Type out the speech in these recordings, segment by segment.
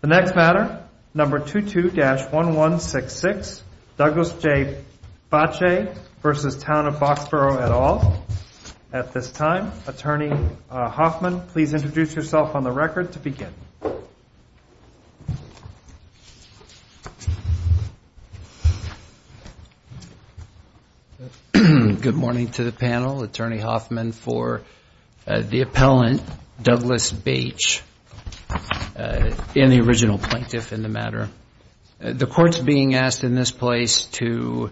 The next matter, number 22-1166, Douglas J. Bache v. Town of Boxborough et al. At this time, Attorney Hoffman, please introduce yourself on the record to begin. Good morning to the panel. Attorney Hoffman for the appellant, Douglas Bache, and the original plaintiff in the matter. The court's being asked in this place to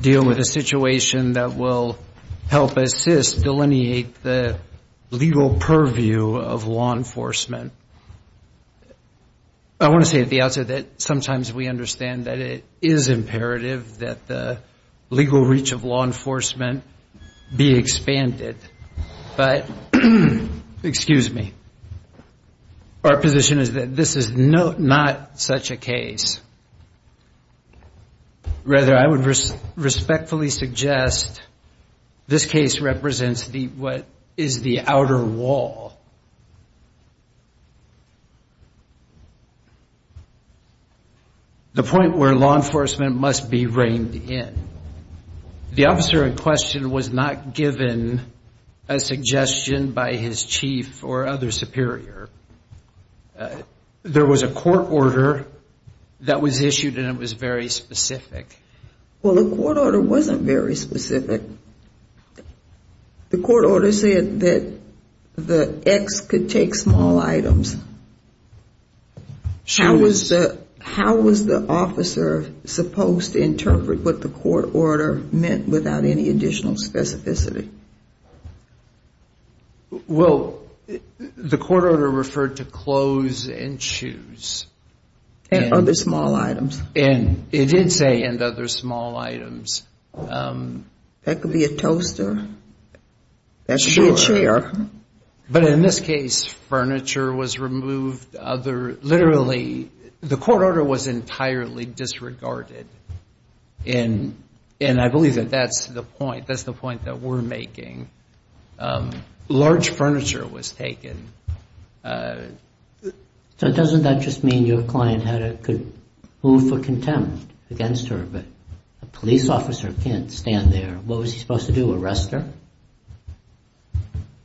deal with a situation that will help assist, delineate the legal purview of law enforcement. I want to say at the outset that sometimes we understand that it is imperative that the legal reach of law enforcement be expanded. But, excuse me, our position is that this is not such a case. Rather, I would respectfully suggest this case represents what is the outer wall, the point where law enforcement must be reined in. The officer in question was not given a suggestion by his chief or other superior. There was a court order that was issued and it was very specific. Well, the court order wasn't very specific. The court order said that the ex could take small items. How was the officer supposed to interpret what the court order meant without any additional specificity? Well, the court order referred to clothes and shoes. And other small items. It did say and other small items. That could be a toaster. That could be a chair. But in this case, furniture was removed. Literally, the court order was entirely disregarded. And I believe that that's the point. That's the point that we're making. Large furniture was taken. So doesn't that just mean your client could move for contempt against her? But a police officer can't stand there. What was he supposed to do, arrest her?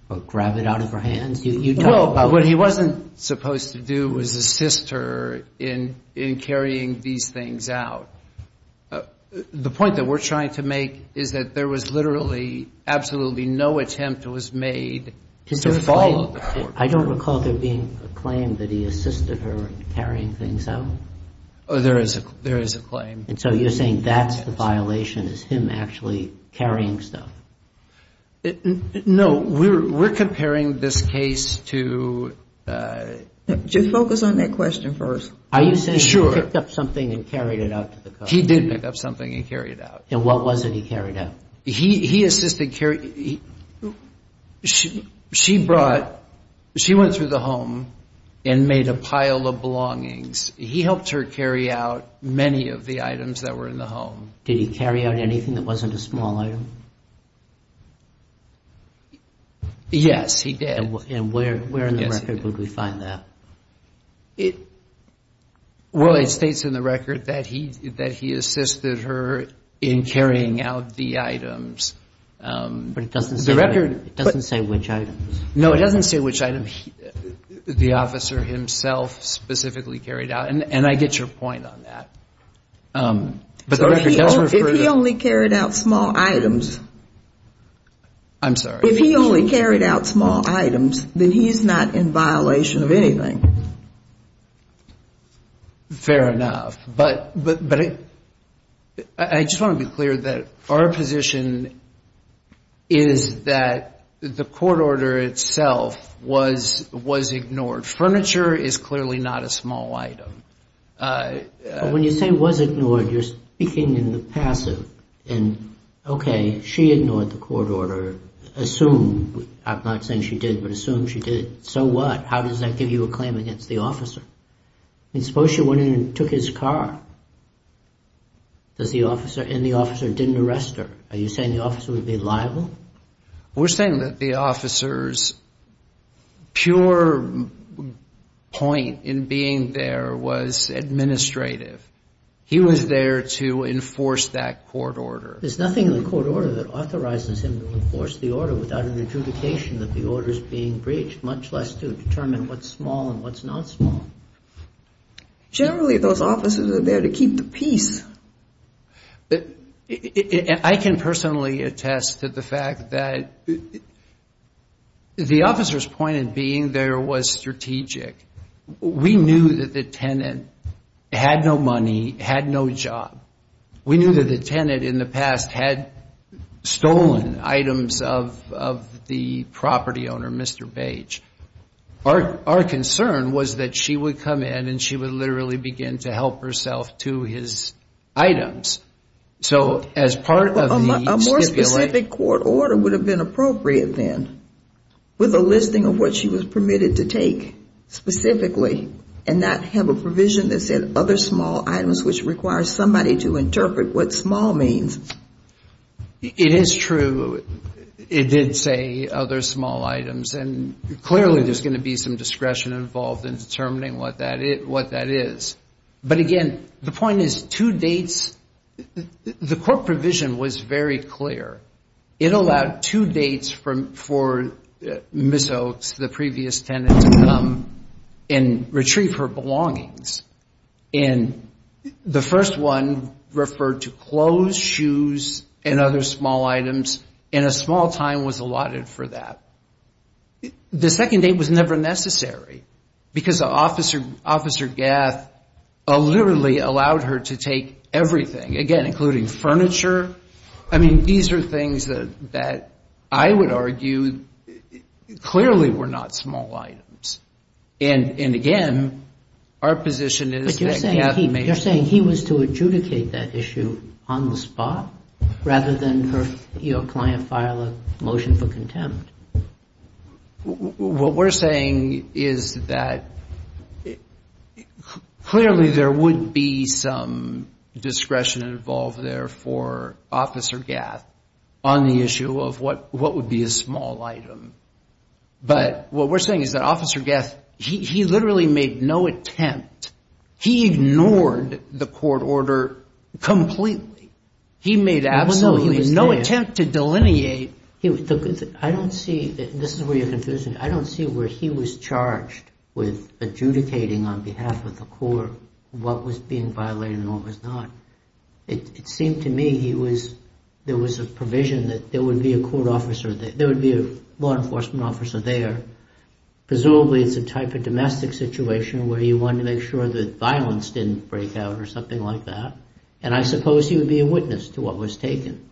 Or grab it out of her hands? Well, what he wasn't supposed to do was assist her in carrying these things out. The point that we're trying to make is that there was literally absolutely no attempt was made to follow the court order. I don't recall there being a claim that he assisted her in carrying things out. There is a claim. And so you're saying that's the violation, is him actually carrying stuff? No. We're comparing this case to... Just focus on that question first. Are you saying he picked up something and carried it out to the coast? He did pick up something and carry it out. And what was it he carried out? He assisted carry... She brought... She went through the home and made a pile of belongings. He helped her carry out many of the items that were in the home. Did he carry out anything that wasn't a small item? Yes, he did. And where in the record would we find that? Well, it states in the record that he assisted her in carrying out the items. But it doesn't say which items. No, it doesn't say which items. The officer himself specifically carried out. And I get your point on that. But the record tells me... If he only carried out small items... I'm sorry. If he only carried out small items, then he's not in violation of anything. Fair enough. But I just want to be clear that our position is that the court order itself was ignored. Furniture is clearly not a small item. When you say was ignored, you're speaking in the passive. And okay, she ignored the court order. Assume... I'm not saying she did, but assume she did. So what? How does that give you a claim against the officer? I mean, suppose she went in and took his car. And the officer didn't arrest her. Are you saying the officer would be liable? We're saying that the officer's pure point in being there was administrative. He was there to enforce that court order. There's nothing in the court order that authorizes him to enforce the order without an adjudication that the order is being breached, much less to determine what's small and what's not small. Generally, those officers are there to keep the peace. I can personally attest to the fact that the officer's point in being there was strategic. We knew that the tenant had no money, had no job. We knew that the tenant in the past had stolen items of the property owner, Mr. Bage. Our concern was that she would come in and she would literally begin to help herself to his items. So as part of the stipulation... A more specific court order would have been appropriate then, with a listing of what she was permitted to take specifically, and not have a provision that said other small items, which requires somebody to interpret what small means. It is true. It did say other small items. And clearly, there's going to be some discretion involved in determining what that is. But again, the point is two dates. The court provision was very clear. It allowed two dates for Ms. Oaks, the previous tenant, to come and retrieve her belongings. And the first one referred to clothes, shoes, and other small items. And a small time was allotted for that. The second date was never necessary, because Officer Gath literally allowed her to take everything, again, including furniture. I mean, these are things that I would argue clearly were not small items. And again, our position is that Gath may... But you're saying he was to adjudicate that issue on the spot, rather than your client file a motion for contempt. What we're saying is that clearly, there would be some discretion involved there for Officer Gath on the issue of what would be a small item. But what we're saying is that Officer Gath, he literally made no attempt. He ignored the court order completely. He made absolutely no attempt to delineate. I don't see... This is where you're confusing. I don't see where he was charged with adjudicating on behalf of the court what was being violated and what was not. It seemed to me there was a provision that there would be a law enforcement officer there. Presumably, it's a type of domestic situation where you want to make sure that violence didn't break out or something like that. And I suppose he would be a witness to what was taken.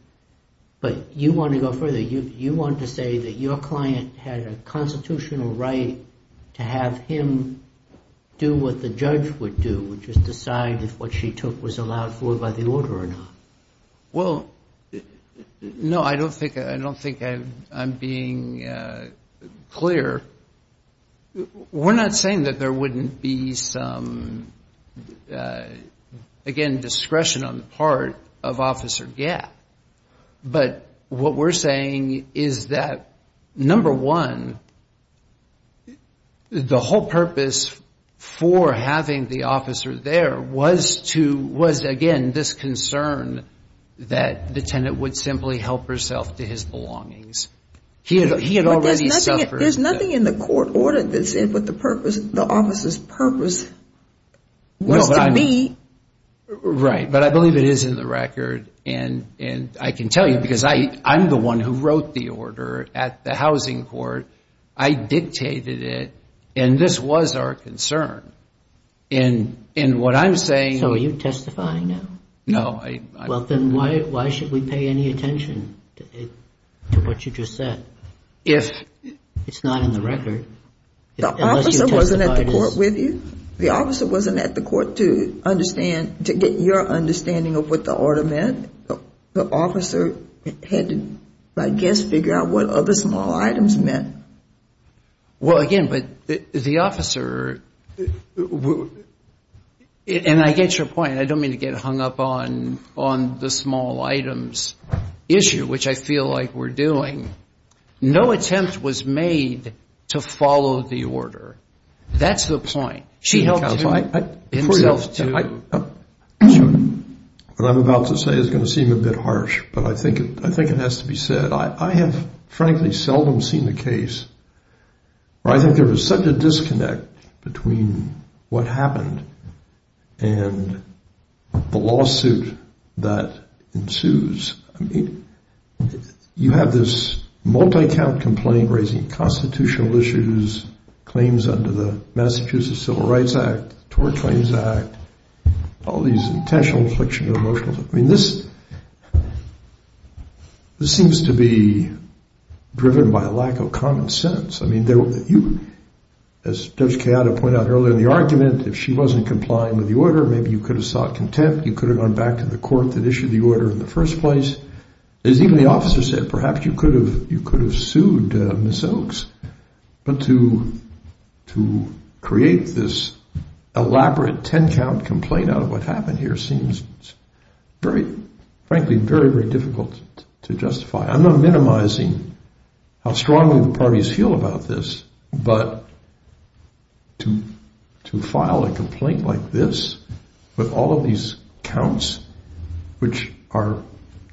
But you want to go further. You want to say that your client had a constitutional right to have him do what the judge would do, which is decide if what she took was allowed for by the order or not. Well, no, I don't think I'm being clear. We're not saying that there wouldn't be some, again, discretion on the part of Officer Gath. But what we're saying is that, number one, the whole purpose for having the officer there was, again, this concern that the tenant would simply help herself to his belongings. He had already suffered... There's nothing in the court order that said what the purpose, the officer's purpose was to be. Right, but I believe it is in the record. And I can tell you, because I'm the one who wrote the order at the housing court, I dictated it, and this was our concern. And what I'm saying... So are you testifying now? No. Well, then why should we pay any attention to what you just said? It's not in the record. The officer wasn't at the court with you? The officer wasn't at the court to get your understanding of what the order meant? The officer had to, I guess, figure out what other small items meant. Well, again, but the officer... And I get your point. I don't mean to get hung up on the small items issue, which I feel like we're doing. No attempt was made to follow the order. That's the point. She helped herself to... What I'm about to say is going to seem a bit harsh, but I think it has to be said. I have, frankly, seldom seen a case where I think there was such a disconnect between what happened and the lawsuit that ensues. You have this multi-count complaint raising constitutional issues, claims under the Massachusetts Civil Rights Act, Tort Claims Act, all these intentional afflictions of emotions. I mean, this seems to be driven by a lack of common sense. I mean, as Judge Kayada pointed out earlier in the argument, if she wasn't complying with the order, maybe you could have sought contempt. You could have gone back to the court that issued the order in the first place. As even the officer said, perhaps you could have sued Ms. Oaks. But to create this elaborate 10-count complaint out of what happened here seems very, frankly, very, very difficult to justify. I'm not minimizing how strongly the parties feel about this, but to file a complaint like this with all of these counts, which are,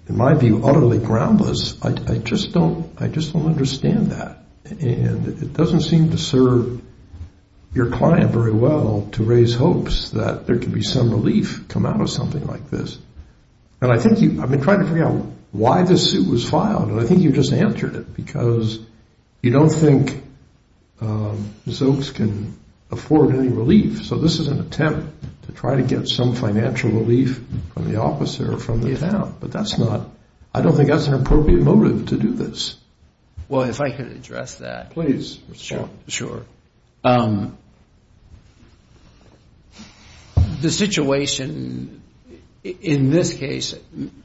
in my view, utterly groundless, I just don't understand that. It doesn't seem to serve your client very well to raise hopes that there could be some relief come out of something like this. I've been trying to figure out why this suit was filed, and I think you just answered it, because you don't think Ms. Oaks can afford any relief. So this is an attempt to try to get some financial relief from the officer or from the town. But I don't think that's an appropriate motive to do this. Well, if I could address that. Please. Sure. The situation in this case,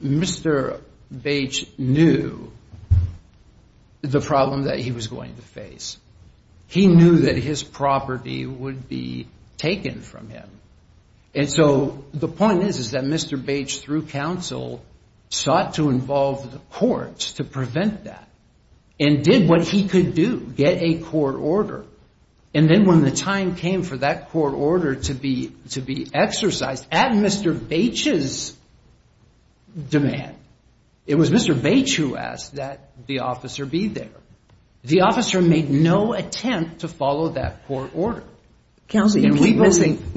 Mr. Bache knew the problem that he was going to face. He knew that his property would be taken from him. And so the point is, is that Mr. Bache, through counsel, sought to involve the courts to prevent that, and did what he could do, get a court order. And then when the time came for that court order to be exercised, at Mr. Bache's demand, it was Mr. Bache who asked that the officer be there. The officer made no attempt to follow that court order. Counsel, you keep missing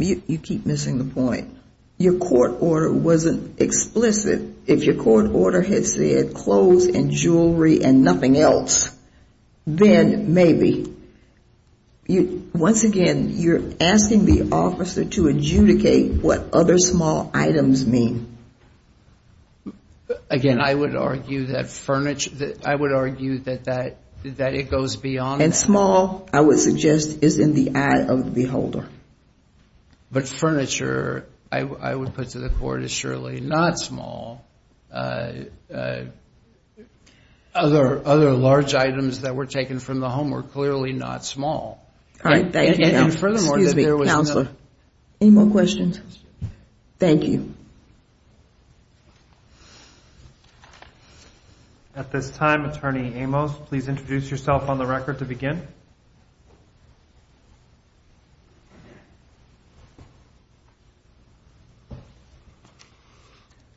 the point. Your court order wasn't explicit. If your court order had said clothes and jewelry and nothing else, then maybe. Once again, you're asking the officer to adjudicate what other small items mean. Again, I would argue that it goes beyond that. And small, I would suggest, is in the eye of the beholder. But furniture, I would put to the court, is surely not small. Other large items that were taken from the home were clearly not small. All right. Thank you. And furthermore, there was no- Excuse me, counselor. Any more questions? Thank you. Thank you. At this time, Attorney Amos, please introduce yourself on the record to begin.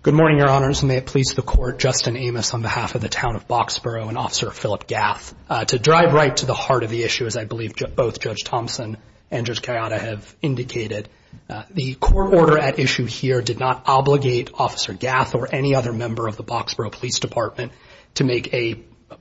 Good morning, Your Honors. May it please the Court, Justin Amos on behalf of the Town of Boxborough and Officer Philip Gath. To drive right to the heart of the issue, as I believe both Judge Thompson and Judge Kayada have indicated, the court order at issue here did not obligate Officer Gath or any other member of the Boxborough Police Department to make a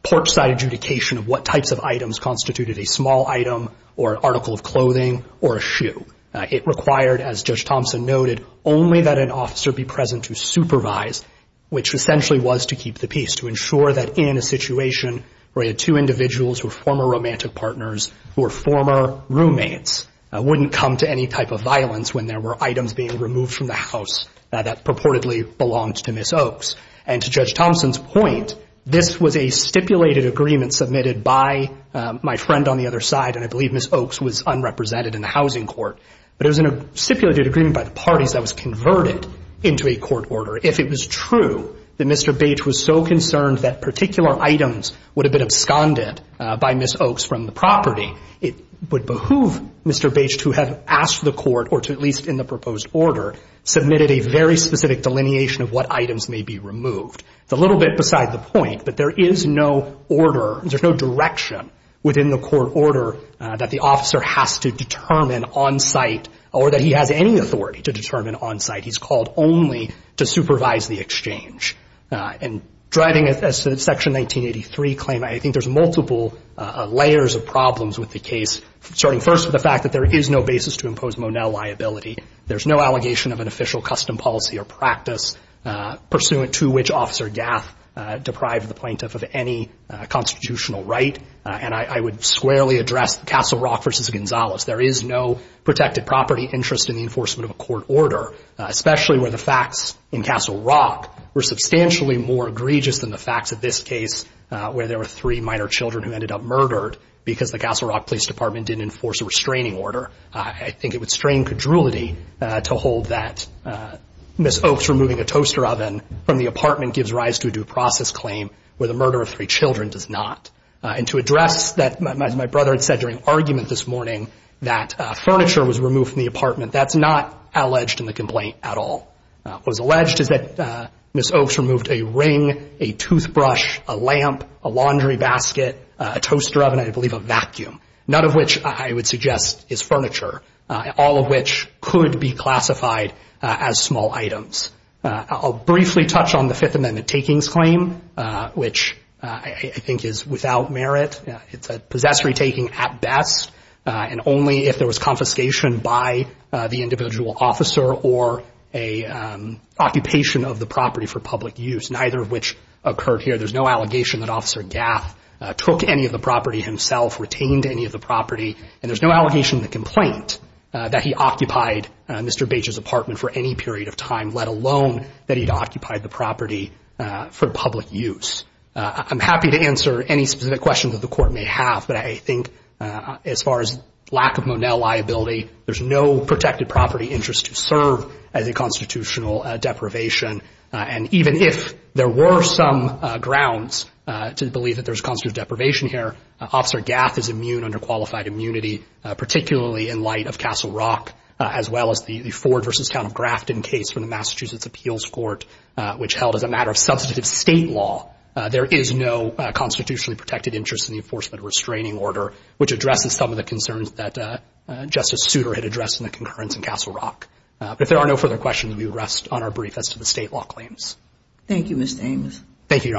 porch-side adjudication of what types of items constituted a small item or article of clothing or a shoe. It required, as Judge Thompson noted, only that an officer be present to supervise, which essentially was to keep the peace, to ensure that in a situation where you had two individuals who were former romantic partners, who were former roommates, wouldn't come to any type of violence when there were items being removed from the house that purportedly belonged to Ms. Oaks. And to Judge Thompson's point, this was a stipulated agreement submitted by my friend on the other side, and I believe Ms. Oaks was unrepresented in the housing court. But it was a stipulated agreement by the parties that was converted into a court order. If it was true that Mr. Bates was so concerned that particular items would have been absconded by Ms. Oaks from the property, it would behoove Mr. Bates to have asked the court, or at least in the proposed order, submitted a very specific delineation of what items may be removed. It's a little bit beside the point, but there is no order, there's no direction within the court order that the officer has to determine on-site or that he has any authority to determine on-site. He's called only to supervise the exchange. And driving us to Section 1983 claim, I think there's multiple layers of problems with the case, starting first with the fact that there is no basis to impose Monell liability. There's no allegation of an official custom policy or practice pursuant to which Officer Gath deprived the plaintiff of any constitutional right. And I would squarely address Castle Rock v. Gonzales. There is no protected property interest in the enforcement of a court order, especially where the facts in Castle Rock were substantially more egregious than the facts of this case where there were three minor children who ended up murdered because the Castle Rock Police Department didn't enforce a restraining order. I think it would strain cajolity to hold that Ms. Oaks removing a toaster oven from the apartment gives rise to a due process claim where the murder of three children does not. And to address that, as my brother had said during argument this morning, that furniture was removed from the apartment, that's not alleged in the complaint at all. What was alleged is that Ms. Oaks removed a ring, a toothbrush, a lamp, a laundry basket, a toaster oven, I believe a vacuum, none of which I would suggest is furniture, all of which could be classified as small items. I'll briefly touch on the Fifth Amendment takings claim, which I think is without merit. It's a possessory taking at best, and only if there was confiscation by the individual officer or an occupation of the property for public use, neither of which occurred here. There's no allegation that Officer Gaff took any of the property himself, retained any of the property, and there's no allegation in the complaint that he occupied Mr. Bage's apartment for any period of time, let alone that he'd occupied the property for public use. I'm happy to answer any specific questions that the Court may have, but I think as far as lack of Monell liability, there's no protected property interest to serve as a constitutional deprivation. And even if there were some grounds to believe that there's a constitutional deprivation here, Officer Gaff is immune under qualified immunity, particularly in light of Castle Rock, as well as the Ford v. Count of Grafton case from the Massachusetts Appeals Court, which held as a matter of substantive State law, there is no constitutionally protected interest in the enforcement of restraining order, which addresses some of the concerns that Justice Souter had addressed in the concurrence in Castle Rock. But if there are no further questions, we would rest on our brief as to the State law claims. Thank you, Mr. Ames. Thank you, Your Honor.